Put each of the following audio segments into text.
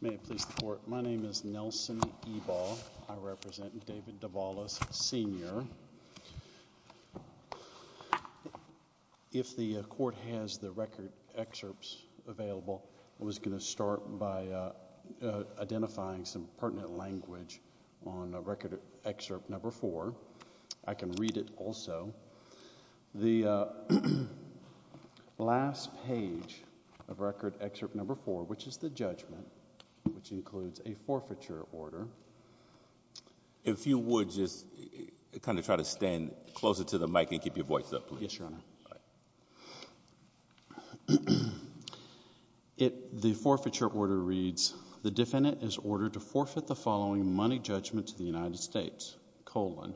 May it please the Court, my name is Nelson Ebal, I represent David Davalos, Sr. If the Court has the record excerpts available, I was going to start by identifying some pertinent language on record excerpt number four. I can read it also. The last page of record excerpt number four, which is the judgment, which includes a forfeiture order. If you would just kind of try to stand closer to the mic and keep your voice up, please. Yes, Your Honor. The forfeiture order reads, the defendant is ordered to forfeit the following money judgment to the United States, colon,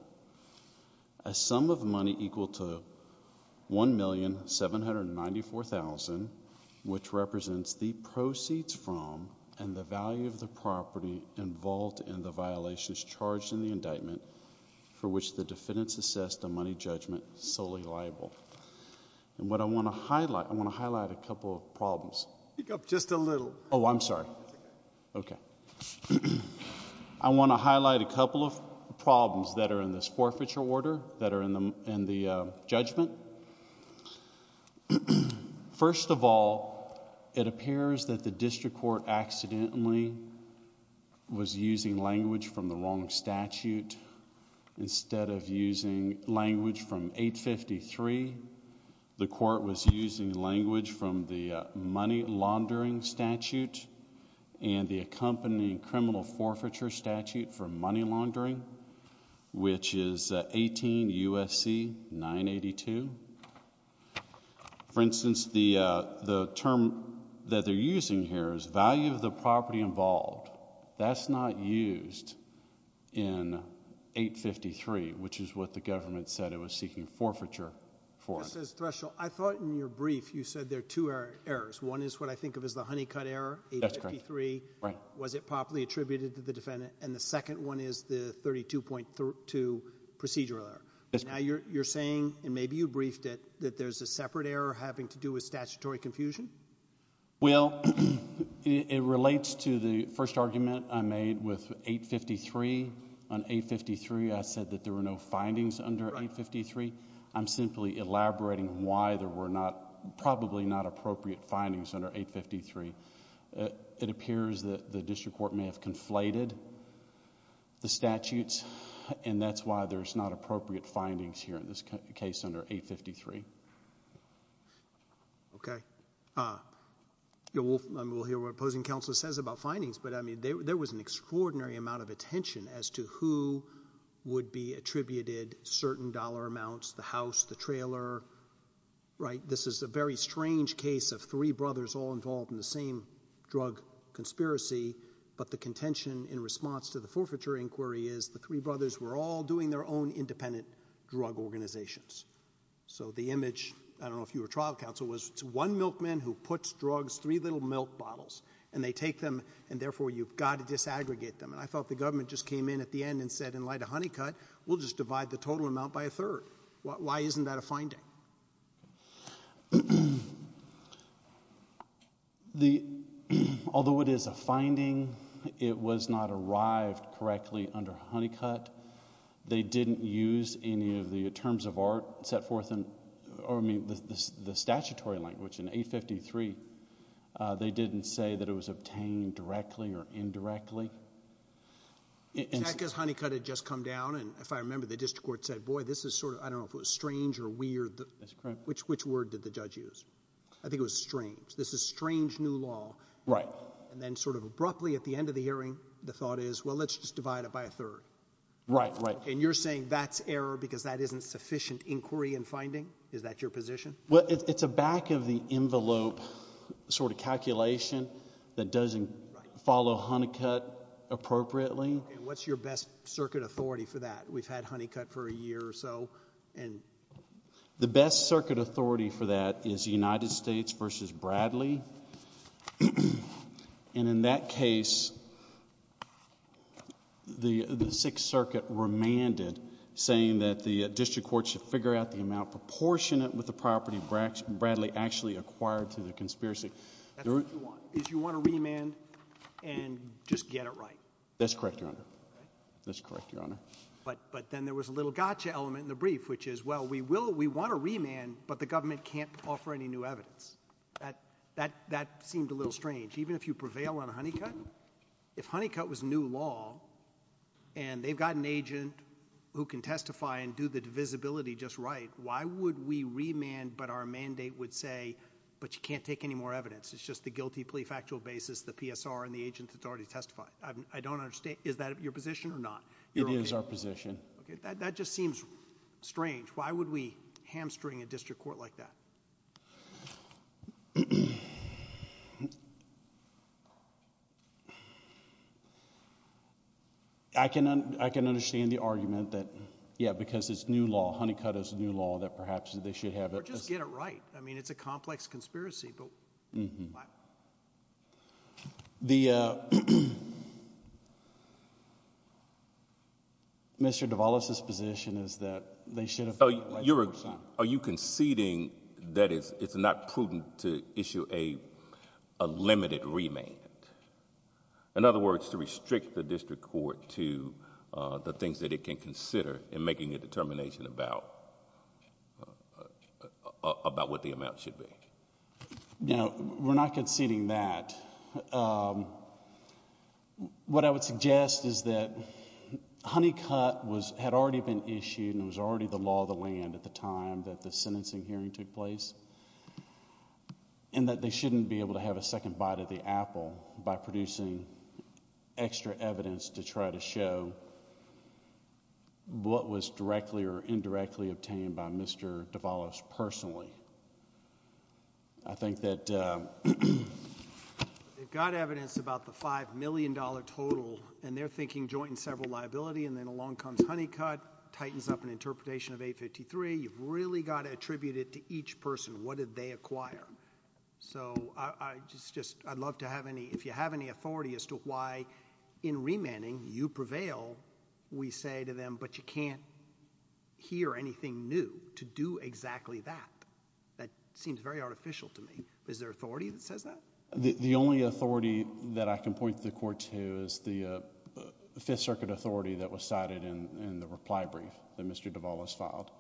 a sum of money equal to $1,794,000, which represents the proceeds from and the value of the property involved in the violations charged in the indictment for which the defendants assessed the money judgment solely liable. And what I want to highlight, I want to highlight a couple of problems. Speak up just a little. Oh, I'm sorry. Okay. I want to highlight a couple of problems that are in this forfeiture order, that are in the judgment. First of all, it appears that the district court accidentally was using language from the wrong statute instead of using language from 853. The court was using language from the money laundering statute and the accompanying criminal forfeiture statute for money laundering, which is 18 U.S.C. 982. For instance, the term that they're using here is value of the property involved. That's not used in 853, which is what the government said it was seeking forfeiture for. Mr. Thresholl, I thought in your brief you said there are two errors. One is what I think of as the honey-cut error, 853. Was it properly attributed to the defendant? And the second one is the 32.2 procedural error. Now you're saying, and maybe you briefed it, that there's a separate error having to do with statutory confusion? Well, it relates to the first argument I made with 853. On 853, I said that there were no findings under 853. I'm simply elaborating why there were probably not appropriate findings under 853. It appears that the district court may have conflated the statutes, and that's why there's not appropriate findings here in this case under 853. Okay. We'll hear what opposing counsel says about findings, but I mean, there was an extraordinary amount of attention as to who would be attributed certain dollar amounts, the house, the trailer. This is a very strange case of three brothers all involved in the same drug conspiracy, but the contention in response to the forfeiture inquiry is the three brothers were all doing their own independent drug organizations. So the image, I don't know if you were trial counsel, was it's one milkman who puts drugs, three little milk bottles, and they take them, and therefore you've got to disaggregate them. And I felt the government just came in at the end and said, in light of Honeycutt, we'll just divide the total amount by a third. Why isn't that a finding? Although it is a finding, it was not arrived correctly under Honeycutt. They didn't use any of the terms of art set forth in, or I mean, the statutory language in 853. They didn't say that it was obtained directly or indirectly. In fact, because Honeycutt had just come down, and if I remember, the district court said, boy, this is sort of, I don't know if it was strange or weird, which word did the judge use? I think it was strange. This is strange new law. Right. And then sort of abruptly at the end of the hearing, the thought is, well, let's just divide the total amount by a third. Right, right. And you're saying that's error because that isn't sufficient inquiry and finding? Is that your position? Well, it's a back of the envelope sort of calculation that doesn't follow Honeycutt appropriately. And what's your best circuit authority for that? We've had Honeycutt for a year or so. And the best circuit authority for that is the United States versus Bradley. And in that case, the Sixth Circuit remanded, saying that the district court should figure out the amount proportionate with the property Bradley actually acquired through the conspiracy. That's what you want, is you want to remand and just get it right. That's correct, Your Honor. That's correct, Your Honor. But then there was a little gotcha element in the brief, which is, well, we want to remand, but the government can't offer any new evidence. That seemed a little strange. Even if you prevail on Honeycutt, if Honeycutt was new law, and they've got an agent who can testify and do the divisibility just right, why would we remand, but our mandate would say, but you can't take any more evidence? It's just the guilty plea factual basis, the PSR, and the agent that's already testified. I don't understand. Is that your position or not? It is our position. Okay. That just seems strange. Why would we hamstring a district court like that? I can understand the argument that, yeah, because it's new law, Honeycutt is new law, that perhaps they should have it. Or just get it right. I mean, it's a complex conspiracy, but why? Mr. DeVallis's position is that they should have... Are you conceding that it's not prudent to issue a limited remand? In other words, to restrict the district court to the things that it can consider in making a determination about what the amount should be? No, we're not conceding that. What I would suggest is that Honeycutt had already been issued, and it was already the law of the land at the time that the sentencing hearing took place, and that they shouldn't be able to have a second bite of the apple by producing extra evidence to try to show what was directly or indirectly obtained by Mr. DeVallis personally. I think that... They've got evidence about the $5 million total, and they're thinking joint and several liability, and then along comes Honeycutt, tightens up an interpretation of 853. You've really got to attribute it to each person. What did they acquire? I'd love to have any... If you have any authority as to why, in remanding, you prevail, we say to them, but you can't hear anything new to do exactly that, that seems very artificial to me. Is there authority that says that? The only authority that I can point to the court to is the Fifth Circuit authority that was cited in the reply brief that Mr. DeVallis filed.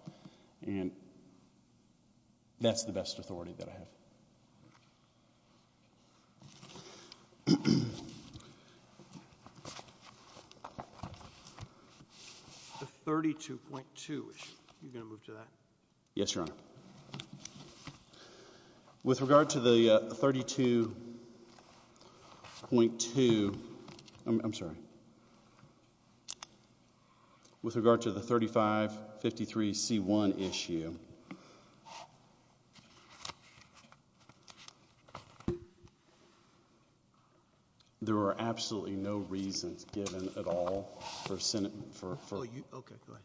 And that's the best authority that I have. The 32.2 issue. Are you going to move to that? Yes, Your Honor. With regard to the 32.2... I'm sorry. With regard to the 3553C1 issue, there are absolutely no reasons given at all for Senate... Okay, go ahead....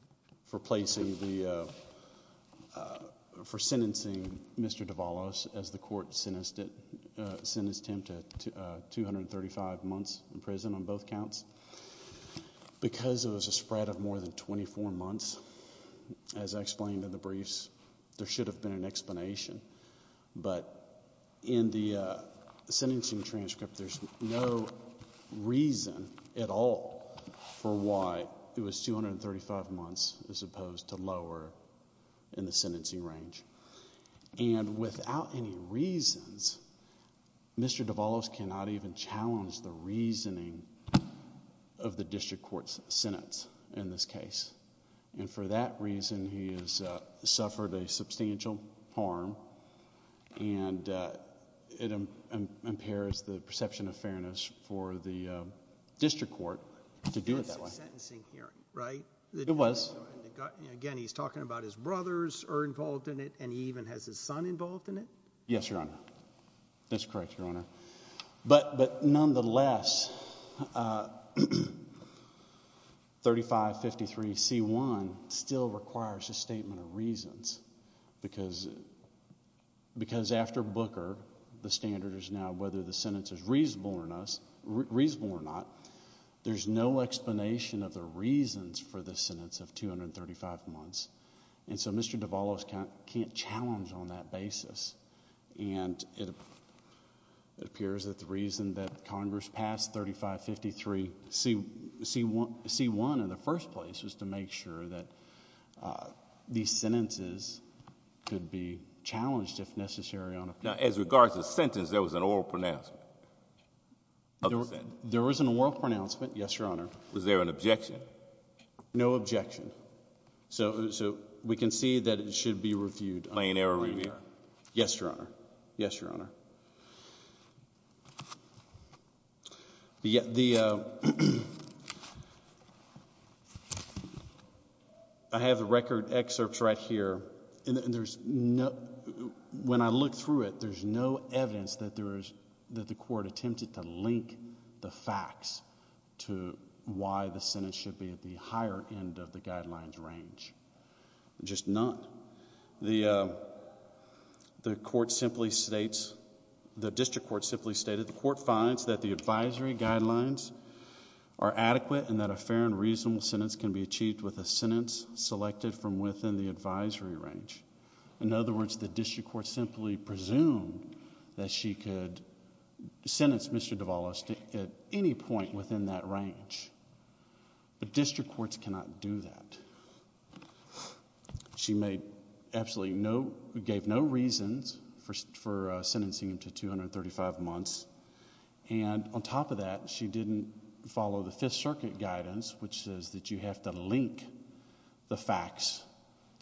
for placing the... for sentencing Mr. DeVallis as the court sentenced him to 235 months in prison on both counts. Because it was a spread of more than 24 months, as I explained in the briefs, there should have been an explanation. But in the sentencing transcript, there's no reason at all for why it was 235 months as opposed to lower in the sentencing range. And without any reasons, Mr. DeVallis cannot even challenge the reasoning of the district court's sentence in this case. And for that reason, he has suffered a substantial harm. And it impairs the perception of fairness for the district court to do it that way. It's a sentencing hearing, right? It was. Again, he's talking about his brothers are involved in it, and he even has his son involved in it? Yes, Your Honor. That's correct, Your Honor. But nonetheless, 3553C1 still requires a statement of reasons. Because after Booker, the standard is now whether the sentence is reasonable or not. There's no explanation of the reasons for the sentence of 235 months. And so Mr. DeVallis can't challenge on that basis. And it appears that the reason that Congress passed 3553C1 in the first place was to make sure that these sentences could be challenged if necessary. Now, as regards to the sentence, there was an oral pronouncement? There was an oral pronouncement, yes, Your Honor. Was there an objection? No objection. So we can see that it should be reviewed. Yes, Your Honor. Yes, Your Honor. I have the record excerpts right here. When I look through it, there's no evidence that the court attempted to link the facts to why the sentence should be at the higher end of the guidelines range. Just none. The court simply states, the district court simply stated, the court finds that the advisory guidelines are adequate and that a fair and reasonable sentence can be achieved with a sentence selected from within the advisory range. In other words, the district court simply presumed that she could sentence Mr. DeVallis at any point within that range. But district courts cannot do that. She gave no reasons for sentencing him to 235 months. And on top of that, she didn't follow the Fifth Circuit guidance which says that you have to link the facts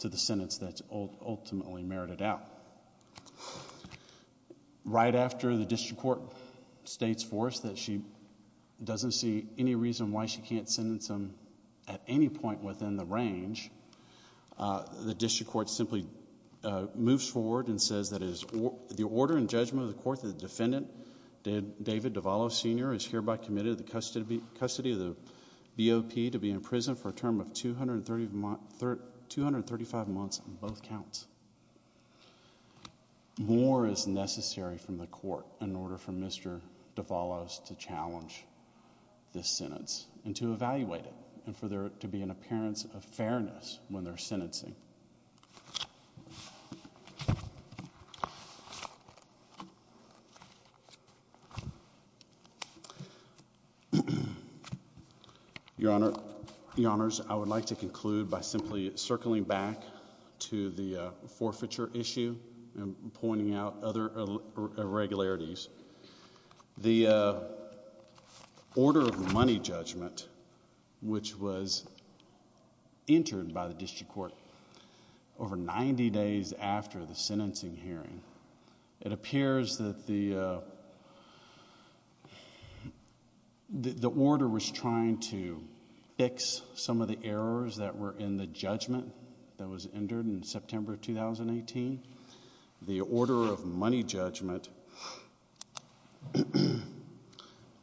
to the sentence that's ultimately merited out. Right after, the district court states for us that she doesn't see any reason why she can't sentence him at any point within the range. The district court simply moves forward and says that it is the order and judgment of the court that the defendant, David DeVallis Sr., is hereby committed to the custody of the BOP to be in prison for a term of 235 months on both counts. More is necessary from the court in order for Mr. DeVallis to challenge this sentence and to evaluate it and for there to be an appearance of fairness when they're sentencing. Your Honor, Your Honors, I would like to conclude by simply circling back to the forfeiture issue and pointing out other irregularities. The order of money judgment which was entered by the district court over 90 days after the sentencing hearing, it appears that the order was trying to fix some of the errors that were in the judgment that was entered in September of 2018. The order of money judgment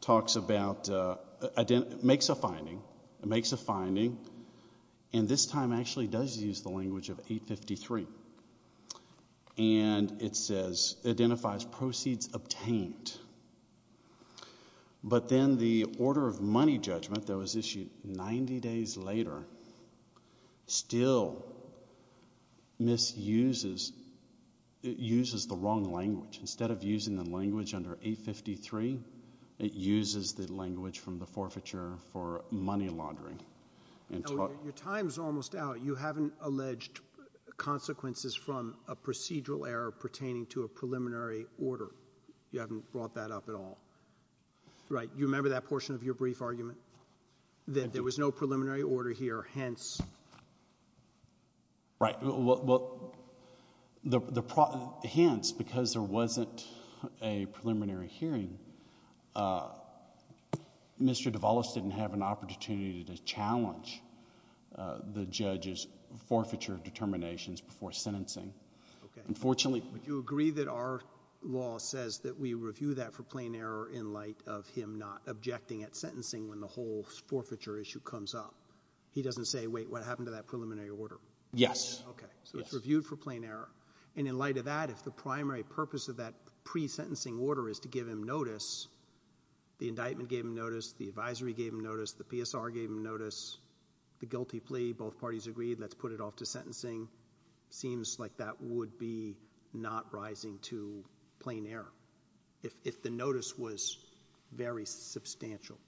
talks about, makes a finding, and this time actually does use the language of 853 and it says, identifies proceeds obtained. But then the order of money judgment that was issued 90 days later still misuses, uses the wrong language. Instead of using the language under 853, it uses the language from the forfeiture for money laundering. Your time's almost out. You haven't alleged consequences from a procedural error pertaining to a preliminary order. You haven't brought that up at all. Right? You remember that portion of your brief argument? That there was no preliminary order here, hence? Right. Hence, because there wasn't a preliminary hearing, Mr. DeVolos didn't have an opportunity to challenge the judge's forfeiture determinations before sentencing. Would you agree that our law says that we review that for plain error in light of him not objecting at sentencing when the whole forfeiture issue comes up? He doesn't say, wait, what happened to that preliminary order? Yes. Okay. So it's reviewed for plain error. And in light of that, if the primary purpose of that pre-sentencing order is to give him notice, the indictment gave him notice, the advisory gave him notice, the PSR gave him notice, the guilty plea, both parties agreed, let's put it off to sentencing, seems like that would be not rising to plain error if the notice was very substantial.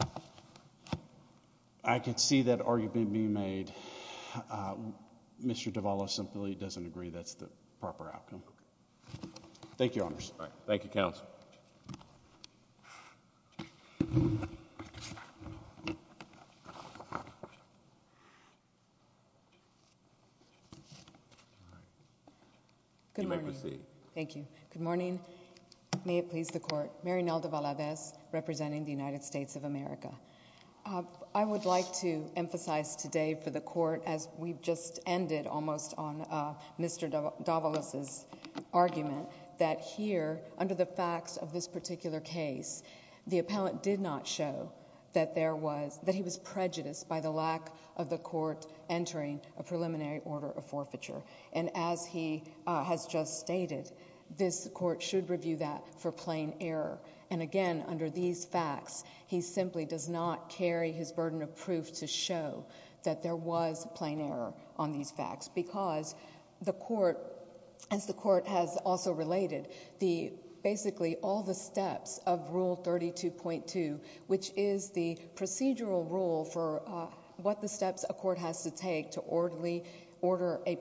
Thank you. I can see that argument being made. Mr. DeVolos simply doesn't agree that's the proper outcome. Thank you, Your Honors. All right. Thank you, Counsel. Good morning. You may proceed. Thank you. Good morning. May it please the Court. Mary Nelda Valadez, representing the United States of America. I would like to emphasize today for the Court, as we've just ended almost on Mr. DeVolos' argument, that here, under the facts of this particular case, the appellant did not show that he was prejudiced by the lack of the Court entering a preliminary order of forfeiture. And as he has just stated, this Court should review that for plain error. And again, under these facts, he simply does not carry his burden of proof to show that there was plain error on these facts. Because the Court, as the Court has also related, basically all the steps of Rule 32.2, which is the procedural rule for what the steps a Court has to take to order a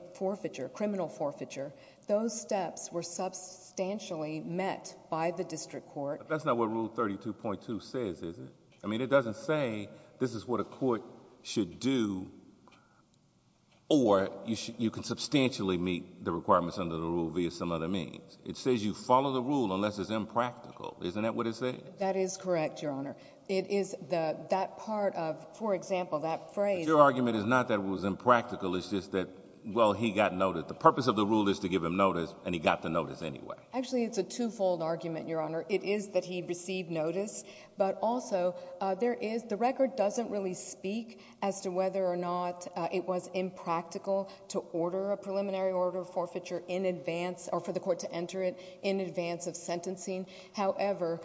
criminal forfeiture, those steps were substantially met by the District Court. But that's not what Rule 32.2 says, is it? I mean, it doesn't say this is what a Court should do or you can substantially meet the requirements under the rule via some other means. It says you follow the rule unless it's impractical. Isn't that what it says? That is correct, Your Honor. It is that part of, for example, that phrase... Well, he got noticed. The purpose of the rule is to give him notice, and he got the notice anyway. Actually, it's a twofold argument, Your Honor. It is that he received notice. But also, the record doesn't really speak as to whether or not it was impractical to order a preliminary order of forfeiture in advance, or for the Court to enter it in advance of sentencing. However,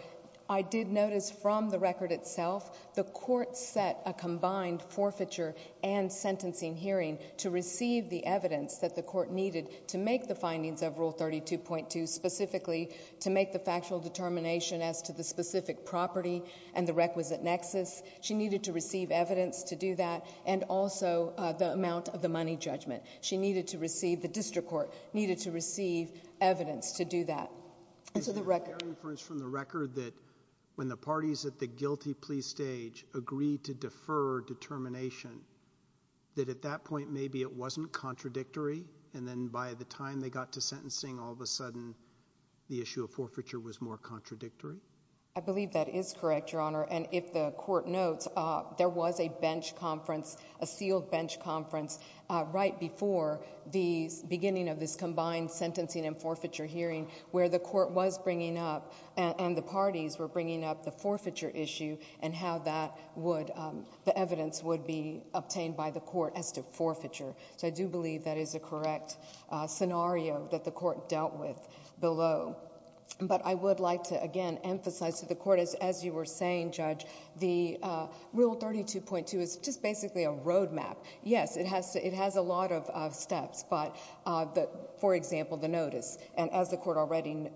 I did notice from the record itself the Court set a combined forfeiture and sentencing hearing to receive the evidence that the Court needed to make the findings of Rule 32.2, specifically to make the factual determination as to the specific property and the requisite nexus. She needed to receive evidence to do that and also the amount of the money judgment. She needed to receive... The District Court needed to receive evidence to do that. Is there any reference from the record that when the parties at the guilty plea stage agreed to defer determination, that at that point maybe it wasn't contradictory, and then by the time they got to sentencing, all of a sudden, the issue of forfeiture was more contradictory? I believe that is correct, Your Honor. And if the Court notes, there was a bench conference, a sealed bench conference, right before the beginning of this combined sentencing and forfeiture hearing where the Court was bringing up and the parties were bringing up the forfeiture issue and how the evidence would be obtained by the Court as to forfeiture. So I do believe that is a correct scenario that the Court dealt with below. But I would like to, again, emphasize to the Court, as you were saying, Judge, the Rule 32.2 is just basically a roadmap. Yes, it has a lot of steps, but, for example, the notice. And as the Court already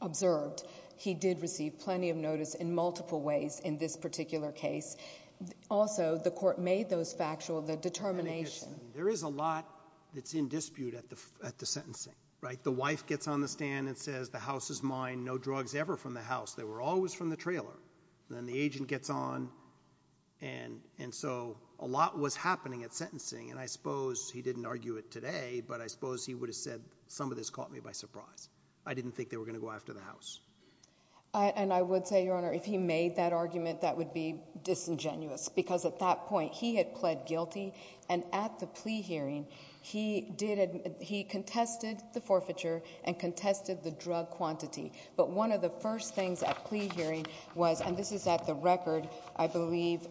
observed, he did receive plenty of notice in multiple ways in this particular case. Also, the Court made those factual, the determination. There is a lot that's in dispute at the sentencing, right? The wife gets on the stand and says, the house is mine, no drugs ever from the house. They were always from the trailer. Then the agent gets on, and so a lot was happening at sentencing. And I suppose he didn't argue it today, but I suppose he would have said, some of this caught me by surprise. I didn't think they were going to go after the house. And I would say, Your Honor, if he made that argument, that would be disingenuous. Because at that point, he had pled guilty, and at the plea hearing, he contested the forfeiture and contested the drug quantity. But one of the first things at plea hearing was, and this is at the record, I believe,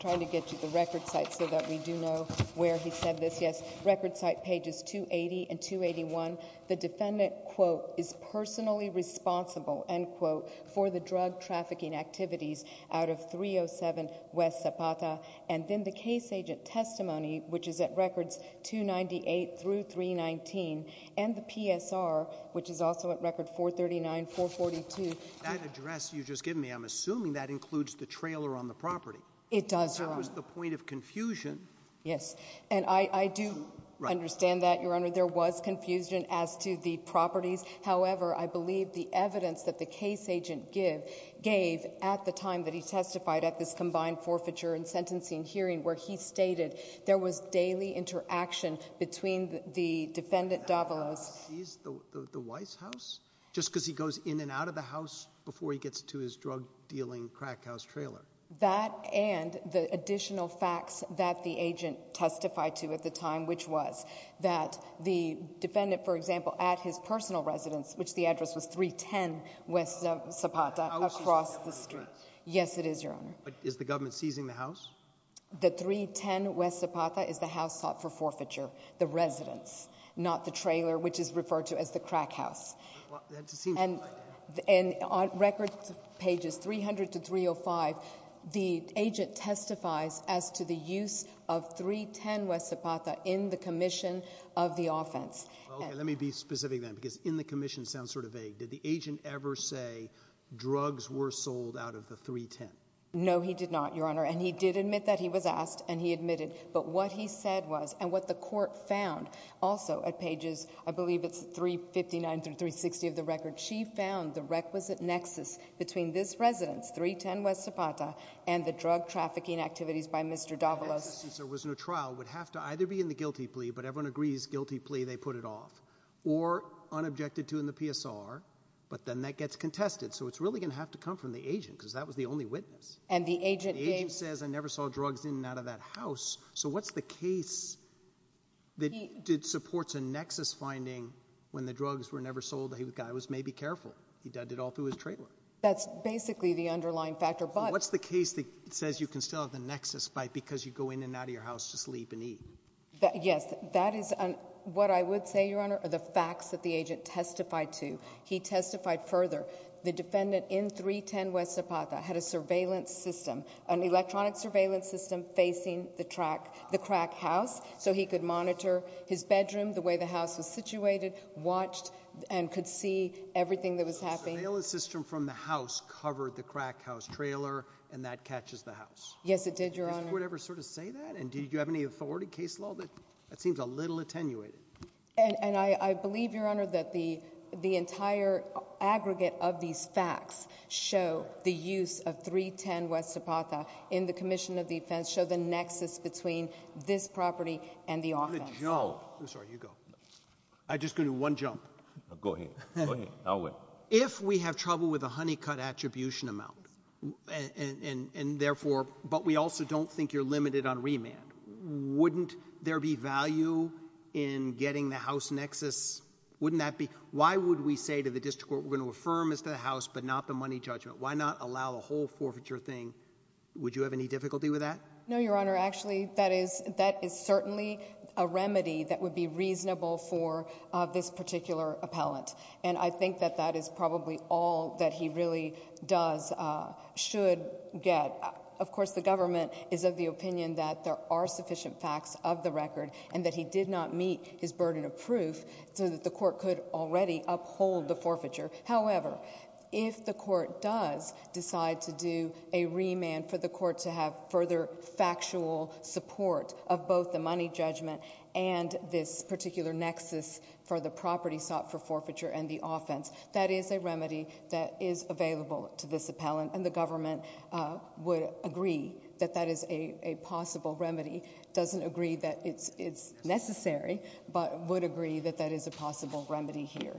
trying to get to the record site so that we do know where he said this. Record site pages 280 and 281. The defendant, quote, is personally responsible, end quote, for the drug trafficking activities out of 307 West Zapata. And then the case agent testimony, which is at records 298 through 319, and the PSR, which is also at record 439, 442. That address you've just given me, I'm assuming that includes the trailer on the property. It does, Your Honor. That was the point of confusion. Yes, and I do understand that, Your Honor. There was confusion as to the properties. However, I believe the evidence that the case agent gave at the time that he testified at this combined forfeiture and sentencing hearing where he stated there was daily interaction between the defendant Davalos... He's the Weiss house? Just because he goes in and out of the house before he gets to his drug-dealing crack house trailer. That and the additional facts that the agent testified to at the time, which was that the defendant, for example, at his personal residence, which the address was 310 West Zapata, across the street. Yes, it is, Your Honor. But is the government seizing the house? The 310 West Zapata is the house sought for forfeiture, the residence, not the trailer, which is referred to as the crack house. And on record pages 300 to 305, the agent testifies as to the use of 310 West Zapata in the commission of the offense. Okay, let me be specific then, because in the commission sounds sort of vague. Did the agent ever say drugs were sold out of the 310? No, he did not, Your Honor. And he did admit that he was asked, and he admitted. But what he said was, and what the court found, also at pages, I believe it's 359 through 360 of the record, she found the requisite nexus between this residence, 310 West Zapata, and the drug trafficking activities by Mr. Davalos. Since there was no trial, it would have to either be in the guilty plea, but everyone agrees guilty plea, they put it off, or unobjected to in the PSR, but then that gets contested. So it's really going to have to come from the agent, because that was the only witness. And the agent gave... The agent says, I never saw drugs in and out of that house. So what's the case that supports a nexus finding when the drugs were never sold? The guy was maybe careful. He dug it all through his trailer. That's basically the underlying factor, but... What's the case that says you can still have the nexus because you go in and out of your house to sleep and eat? That is what I would say, Your Honor, are the facts that the agent testified to. He testified further. The defendant in 310 West Zapata had a surveillance system, an electronic surveillance system facing the crack house so he could monitor his bedroom, the way the house was situated, watched and could see everything that was happening. So the surveillance system from the house covered the crack house trailer and that catches the house? Yes, it did, Your Honor. Would it ever sort of say that? And did you have any authority, case law? That seems a little attenuated. And I believe, Your Honor, that the entire aggregate of these facts show the use of 310 West Zapata in the commission of defense, show the nexus between this property and the offense. I'm going to jump. I'm sorry, you go. I'm just going to do one jump. Go ahead. I'll wait. If we have trouble with a honey-cut attribution amount and therefore, but we also don't think you're limited on remand, wouldn't there be value in getting the house nexus? Wouldn't that be... Why would we say to the district court we're going to affirm as to the house but not the money judgment? Why not allow the whole forfeiture thing? Would you have any difficulty with that? No, Your Honor. Actually, that is certainly a remedy that would be reasonable for this particular appellant. And I think that that is probably all that he really does, should get. Of course, the government is of the opinion that there are sufficient facts of the record and that he did not meet his burden of proof so that the court could already uphold the forfeiture. However, if the court does decide to do a remand for the court to have further factual support of both the money judgment and this particular nexus for the property sought for forfeiture and the offense, that is a remedy that is available to this appellant. And the government would agree that that is a possible remedy. Doesn't agree that it's necessary but would agree that that is a possible remedy here.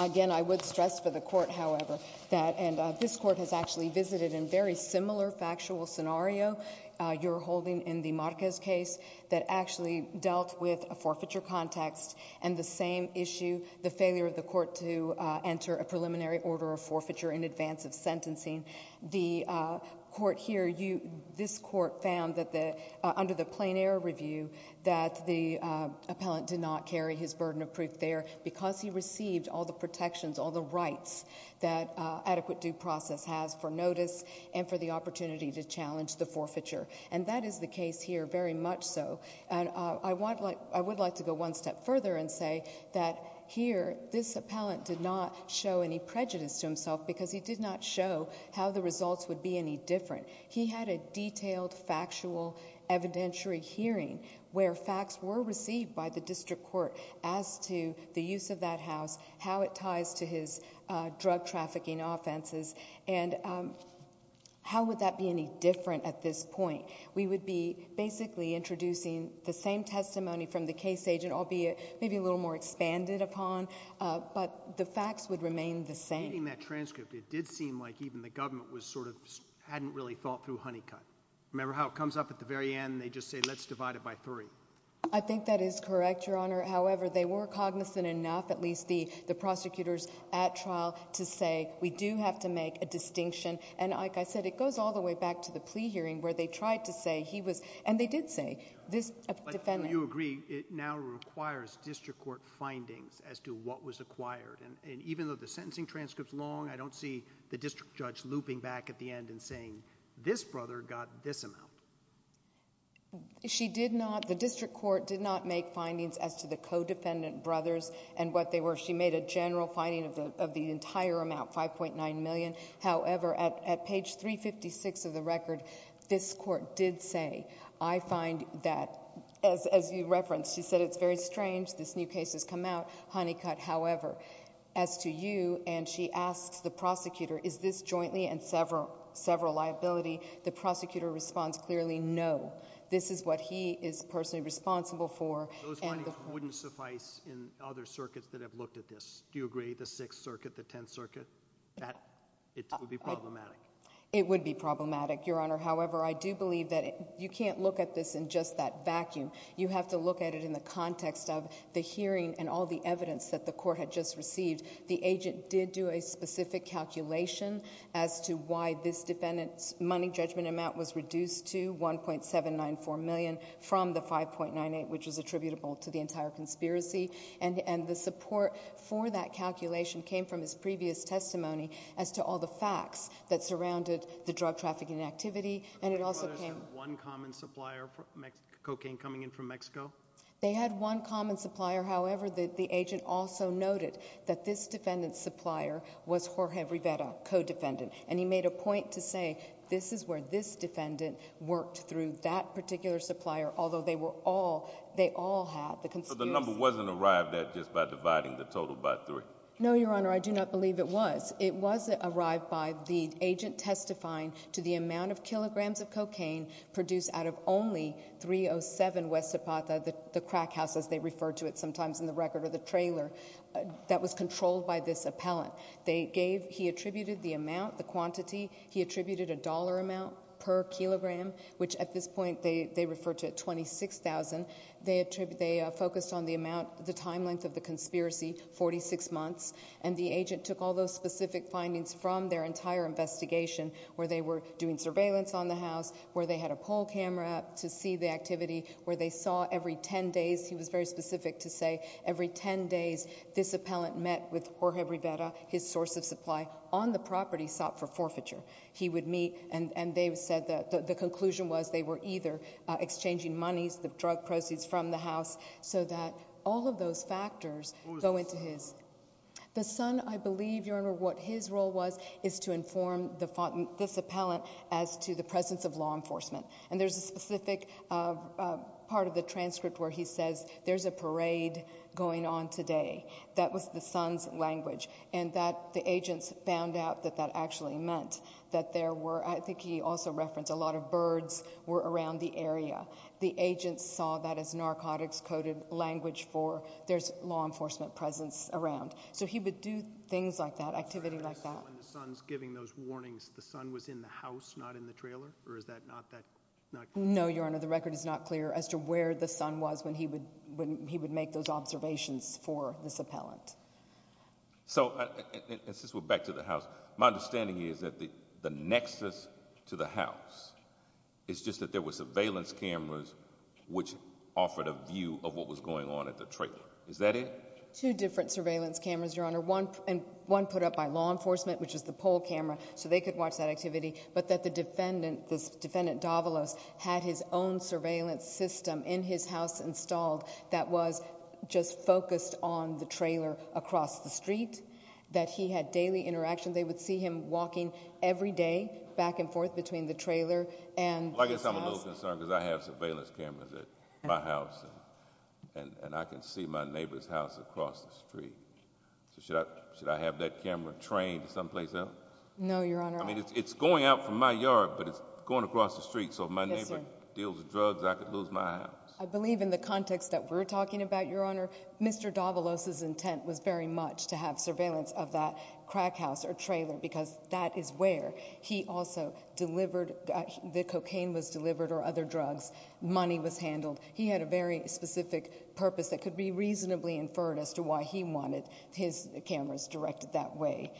Again, I would stress for the court, however, that... And this court has actually visited in very similar factual scenario you're holding in the Marquez case that actually dealt with a forfeiture context and the same issue, the failure of the court to enter a preliminary order of forfeiture in advance of sentencing. The court here, this court found that under the plain error review that the appellant did not carry his burden of proof there because he received all the protections, all the rights that adequate due process has for notice and for the opportunity to challenge the forfeiture. And that is the case here very much so. And I would like to go one step further and say that here, this appellant did not show any prejudice to himself because he did not show how the results would be any different. He had a detailed factual evidentiary hearing where facts were received by the district court as to the use of that house, how it ties to his drug trafficking offenses, and how would that be any different at this point? We would be basically introducing the same testimony from the case agent, albeit maybe a little more expanded upon, but the facts would remain the same. Reading that transcript, it did seem like even the government hadn't really thought through Honeycutt. Remember how it comes up at the very end and they just say, let's divide it by three? I think that is correct, Your Honor. However, they were cognizant enough, at least the prosecutors at trial, to say we do have to make a distinction. And like I said, it goes all the way back to the plea hearing where they tried to say he was... And they did say this defendant... But you agree it now requires district court findings as to what was acquired. And even though the sentencing transcript's long, I don't see the district judge looping back at the end and saying this brother got this amount. She did not... The district court did not make findings as to the co-defendant brothers and what they were. She made a general finding of the entire amount, $5.9 million. However, at page 356 of the record, this court did say, I find that... As you referenced, she said it's very strange this new case has come out. Honeycutt, however, as to you, and she asks the prosecutor, is this jointly and several liability? The prosecutor responds clearly, no. This is what he is personally responsible for. Those findings wouldn't suffice in other circuits that have looked at this. Do you agree, the Sixth Circuit, the Tenth Circuit? It would be problematic. It would be problematic, Your Honor. However, I do believe that you can't look at this in just that vacuum. You have to look at it in the context of the hearing and all the evidence that the court had just received. The agent did do a specific calculation as to why this defendant's money judgment amount was reduced to $1.794 million from the $5.98, which was attributable to the entire conspiracy. And the support for that calculation came from his previous testimony as to all the facts that surrounded the drug trafficking activity. And it also came... The Brothers had one common supplier, cocaine coming in from Mexico? They had one common supplier. However, the agent also noted that this defendant's supplier was Jorge Rivera, co-defendant. And he made a point to say, this is where this defendant worked through that particular supplier, although they all had the conspiracy. So the number wasn't arrived at just by dividing the total by three? No, Your Honor, I do not believe it was. It was arrived by the agent testifying to the amount of kilograms of cocaine produced out of only 307 West Zapata, the crack house, as they refer to it sometimes in the record or the trailer, that was controlled by this appellant. They gave... He attributed the amount, the quantity. He attributed a dollar amount per kilogram, which at this point, they refer to it 26,000. They focused on the amount, the time length of the conspiracy, 46 months. And the agent took all those specific findings from their entire investigation where they were doing surveillance on the house, where they had a poll camera to see the activity, where they saw every 10 days, he was very specific to say, every 10 days this appellant met with Jorge Rivera, his source of supply, on the property sought for forfeiture. He would meet and they said the conclusion was they were either exchanging monies, the drug proceeds from the house, so that all of those factors go into his. The son, I believe, Your Honor, what his role was is to inform this appellant as to the presence of law enforcement. And there's a specific part of the transcript where he says there's a parade going on today. That was the son's language. And that the agents found out that that actually meant that there were, I think he also referenced, a lot of birds were around the area. The agents saw that as narcotics coded language for there's law enforcement presence around. So he would do things like that, activity like that. The son was in the house, not in the trailer? Or is that not that clear? No, Your Honor, the record is not clear as to where the son was when he would make those observations for this appellant. And since we're back to the house, my understanding is that the nexus to the house is just that there were surveillance cameras which offered a view of what was going on at the trailer. Is that it? Two different surveillance cameras, Your Honor. One put up by law enforcement, which is the poll camera, so they could watch that activity, but that the defendant, this defendant Davalos, had his own surveillance system in his house installed that was just focused on the trailer across the street, that he had daily interaction. They would see him walking every day back and forth between the trailer and this house. I guess I'm a little concerned because I have surveillance cameras at my house and I can see my neighbor's house across the street. So should I have that camera trained someplace else? No, Your Honor. I mean, it's going out from my yard but it's going across the street, so if my neighbor deals drugs, I could lose my house. I believe in the context that we're talking about, Your Honor, Mr. Davalos's intent was very much to have surveillance of that crack house or trailer because that is where he also delivered, the cocaine was delivered or other drugs, money was handled. He had a very specific purpose that could be reasonably inferred as to why he wanted his cameras directed that way.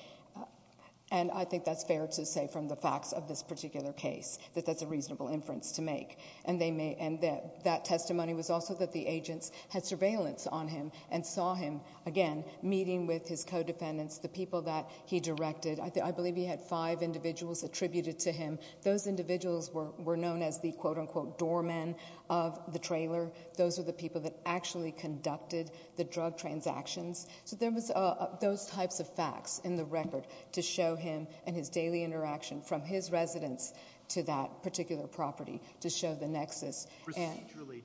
And I think that's fair to say from the facts of this particular case that that's a reasonable inference to make. And that testimony was also that the agents had surveillance on him and saw him, again, meeting with his co-defendants, the people that he directed. I believe he had five individuals attributed to him. Those individuals were known as the quote-unquote doormen of the trailer. Those were the people that actually conducted the drug transactions. So there was those types of facts in the record to show him and his daily interaction from his residence to that particular property, to show the nexus.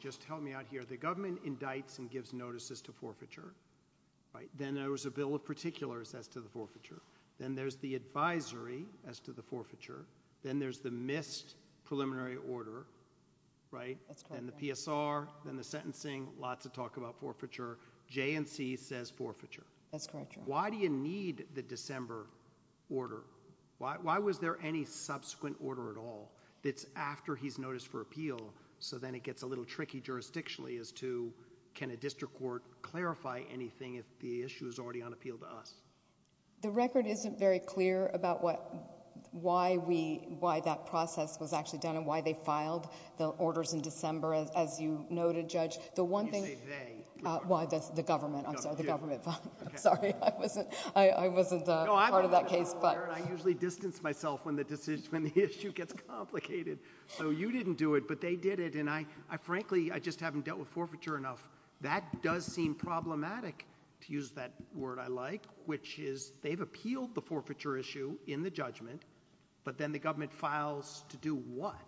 Just help me out here. The government indicts and gives notices to forfeiture. Then there was a bill of particulars as to the forfeiture. Then there's the advisory as to the forfeiture. Then there's the missed preliminary order. Then the PSR. Then the sentencing. Lots of talk about forfeiture. J&C says forfeiture. Why do you need the December order? Why was there any subsequent order at all that's after he's noticed for appeal so then it gets a little tricky jurisdictionally as to can a district court clarify anything if the issue is already on appeal to us? The record isn't very clear about why that process was actually done and why they filed the orders in December as you noted, Judge. You say they. The government. I'm sorry. I wasn't part of that case. I usually distance myself when the issue gets complicated. You didn't do it, but they did it. Frankly, I just haven't dealt with forfeiture enough. That does seem problematic to use that word I like which is they've appealed the forfeiture issue in the judgment but then the government files to do what?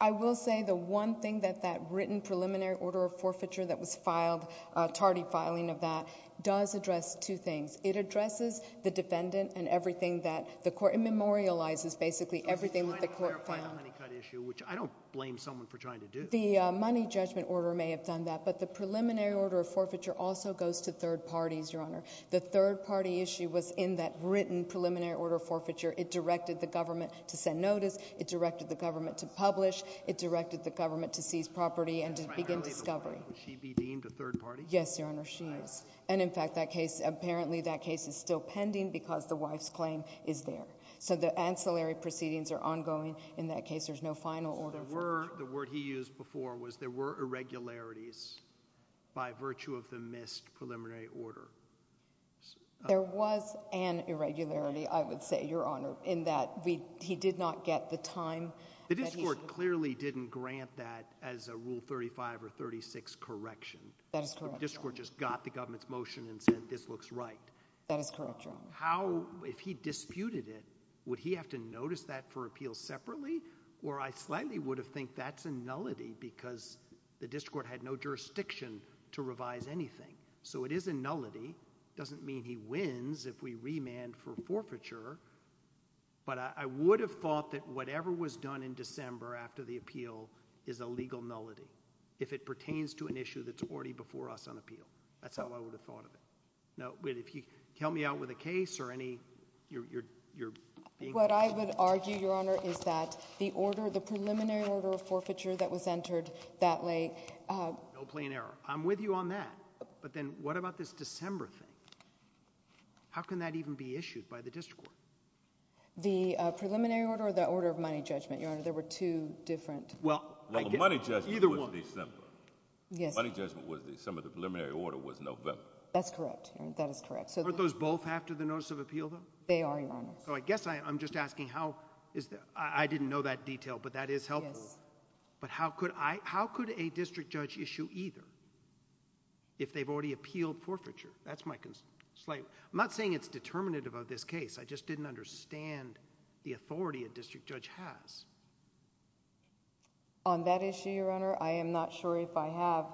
I will say the one thing that that written preliminary order of forfeiture that was filed, tardy filing of that, does address two things. It addresses the defendant and everything that the court, it memorializes basically everything that the court found. I'm trying to clarify the honey cut issue which I don't blame someone for trying to do. The money judgment order may have done that but the preliminary order of forfeiture also goes to third parties, Your Honor. The third party issue was in that written preliminary order of forfeiture. It directed the government to send notice. It directed the government to publish. It directed the government to seize property and to discover it. Would she be deemed a third party? Yes, Your Honor, she is. And in fact that case, apparently that case is still pending because the wife's claim is there. So the ancillary proceedings are ongoing. In that case there's no final order. The word he used before was there were irregularities by virtue of the missed preliminary order. There was an irregularity I would say, Your Honor, in that he did not get the time The district court clearly didn't grant that as a Rule 35 or 36 correction. That is correct, Your Honor. The district court just got the government's motion and said this looks right. That is correct, Your Honor. How, if he disputed it, would he have to notice that for appeals separately? Or I slightly would have think that's a nullity because the district court had no jurisdiction to revise anything. So it is a nullity. Doesn't mean he wins if we remand for forfeiture. But I would have thought that whatever was done in December after the appeal is a legal nullity. If it pertains to an issue that's already before us on appeal. That's how I would have thought of it. Now, if you help me out with a case or any... What I would argue, Your Honor, is that the order, the preliminary order of forfeiture that was entered that late... No plain error. I'm with you on that. But then what about this December thing? How can that even be issued by the district court? The there were two different... The money judgment was December. The money judgment was December. The preliminary order was November. That's correct. That is correct. Aren't those both after the notice of appeal, though? They are, Your Honor. I'm just asking how... I didn't know that detail, but that is helpful. But how could a district judge issue either if they've already appealed forfeiture? That's my... I'm not saying it's determinative of this case. I just didn't understand the On that issue, Your Honor, I am not sure if I have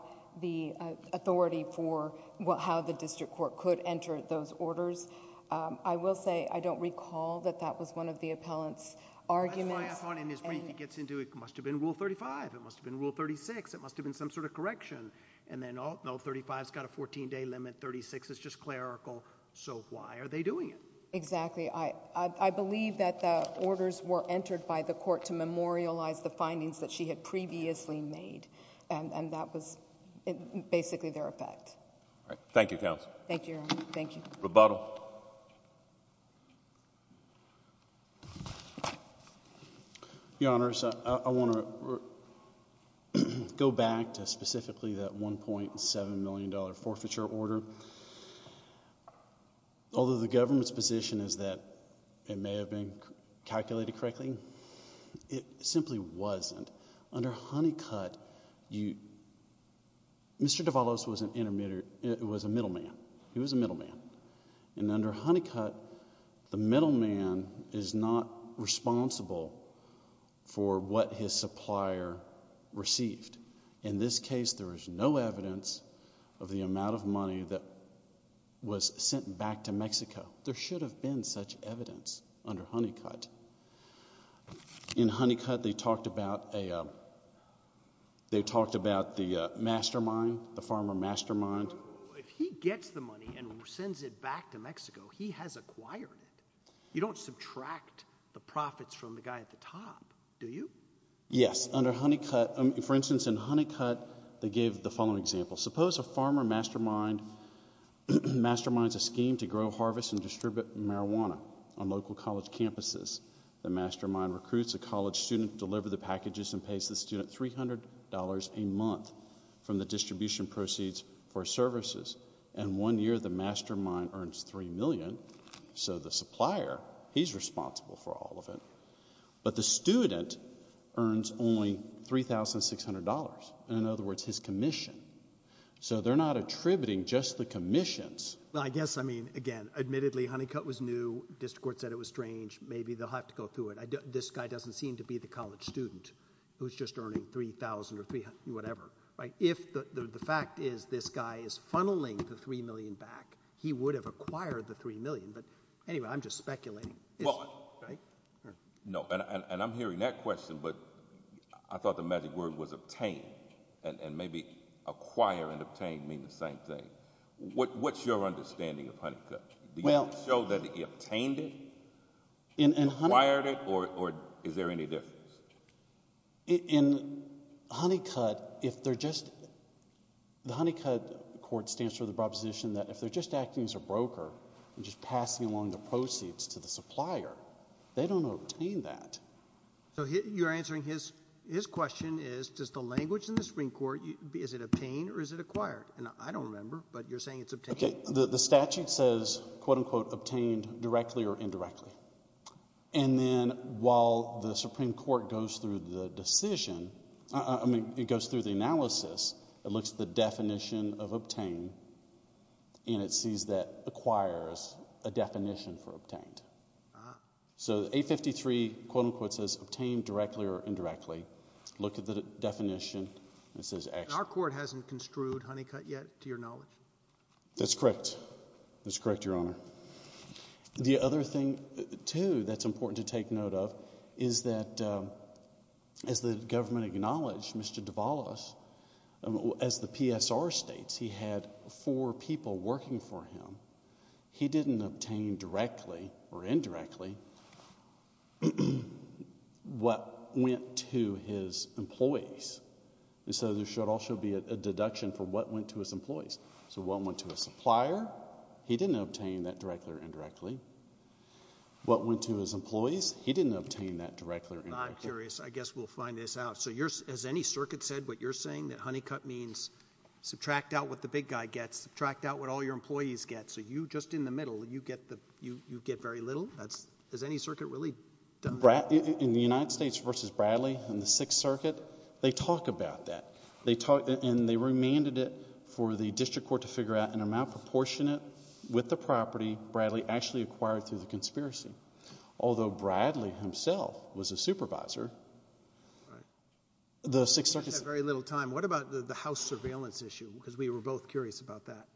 the authority for how the district court could enter those orders. I will say I don't recall that that was one of the appellant's arguments. That's why I thought in his brief he gets into it must have been Rule 35. It must have been Rule 36. It must have been some sort of correction. And then, oh, no, 35's got a 14-day limit. 36 is just clerical. So why are they doing it? Exactly. I believe that the orders were entered by the court to memorialize the findings that she had previously made. And that was basically their effect. Thank you, Counsel. Thank you, Your Honor. Thank you. Rebuttal. Your Honors, I want to go back to specifically that $1.7 million forfeiture order. Although the government's position is that it may have been calculated correctly, it simply wasn't. Under Honeycutt, Mr. Devalos was a middleman. He was a middleman. And under Honeycutt, the middleman is not responsible for what his supplier there is no evidence of the amount of money that was sent back to Mexico. There should have been such evidence under Honeycutt. In Honeycutt, they talked about the mastermind, the farmer mastermind. If he gets the money and sends it back to Mexico, he has acquired it. You don't subtract the profits from the guy at the top, do you? Yes. Under Honeycutt, for instance, in Honeycutt, they gave the following example. Suppose a farmer mastermind masterminds a scheme to grow, harvest, and distribute marijuana on local college campuses. The mastermind recruits a college student to deliver the packages and pays the student $300 a month from the distribution proceeds for services. And one year, the mastermind earns $3 million. So the supplier, he's responsible for all of it. But the student earns only $3,600. In other words, his commission. So they're not attributing just the commissions. Well, I guess, I mean, again, admittedly Honeycutt was new. District Court said it was strange. Maybe they'll have to go through it. This guy doesn't seem to be the college student who's just earning $3,000 or whatever. If the fact is this guy is funneling the $3 million back, he would have acquired the $3 million. But anyway, I'm just speculating. No. And I'm hearing that question, but I thought the magic word was obtain. And maybe acquire and obtain mean the same thing. What's your understanding of Honeycutt? Did he show that he obtained it? He acquired it? Or is there any difference? In Honeycutt, if they're just the Honeycutt court stands for the proposition that if they're just acting as a broker and just passing along the proceeds to the supplier, they don't obtain that. So you're answering his question is, does the language in the Supreme Court, is it obtain or is it acquire? I don't remember, but you're saying it's obtain. The statute says obtain directly or indirectly. And then while the Supreme Court goes through the decision, I mean it goes through the analysis, it looks at the definition of obtain and it sees that acquire is a definition for obtain. So 853 says obtain directly or indirectly. Look at the definition. Our court hasn't construed Honeycutt yet to your knowledge. That's correct. That's correct, Your Honor. The other thing too that's important to take note of is that as the government acknowledged, Mr. Davalos, as the PSR states, he had four people working for him. He didn't obtain directly or indirectly what went to his employees. So there should also be a deduction for what went to his employees. So what went to his supplier, he didn't obtain that directly or indirectly. What went to his employees, he didn't obtain that directly or indirectly. I'm curious. I guess we'll find this out. So as any circuit said, what you're saying that Honeycutt means, subtract out what the big guy gets, subtract out what all your employees get. So you, just in the middle, you get very little. That's, as any circuit really does. In the United States versus Bradley in the Sixth Circuit, they talk about that. They talk, and they remanded it for the district court to figure out an amount proportionate with the property Bradley actually acquired through the conspiracy. Although Bradley himself was a supervisor. The Sixth Circuit said... What about the house surveillance issue? Because we were both curious about that.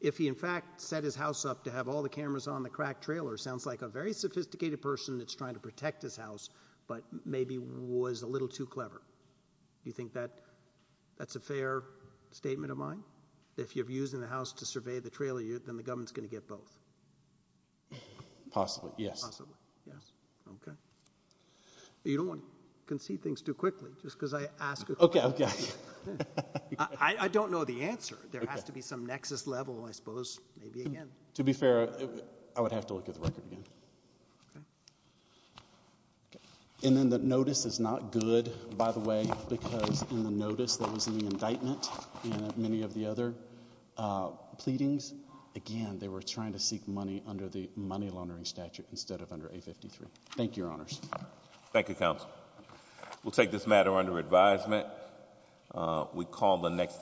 If he in fact set his house up to have all the cameras on the crack trailer, sounds like a very sophisticated person that's trying to protect his house, but maybe was a little too clever. Do you think that's a fair statement of mine? If you're using the house to survey the trailer, then the government's going to get both. Possibly, yes. Possibly, yes. Okay. You don't want to concede things too quickly, just because I asked a question. Okay, okay. I don't know the answer. There has to be some fair... I would have to look at the record again. Okay. And then the notice is not good, by the way, because in the notice that was in the indictment and many of the other pleadings, again, they were trying to seek money under the money laundering statute instead of under 853. Thank you, Your Honors. Thank you, Counsel. We'll take this matter under advisement. We call the next...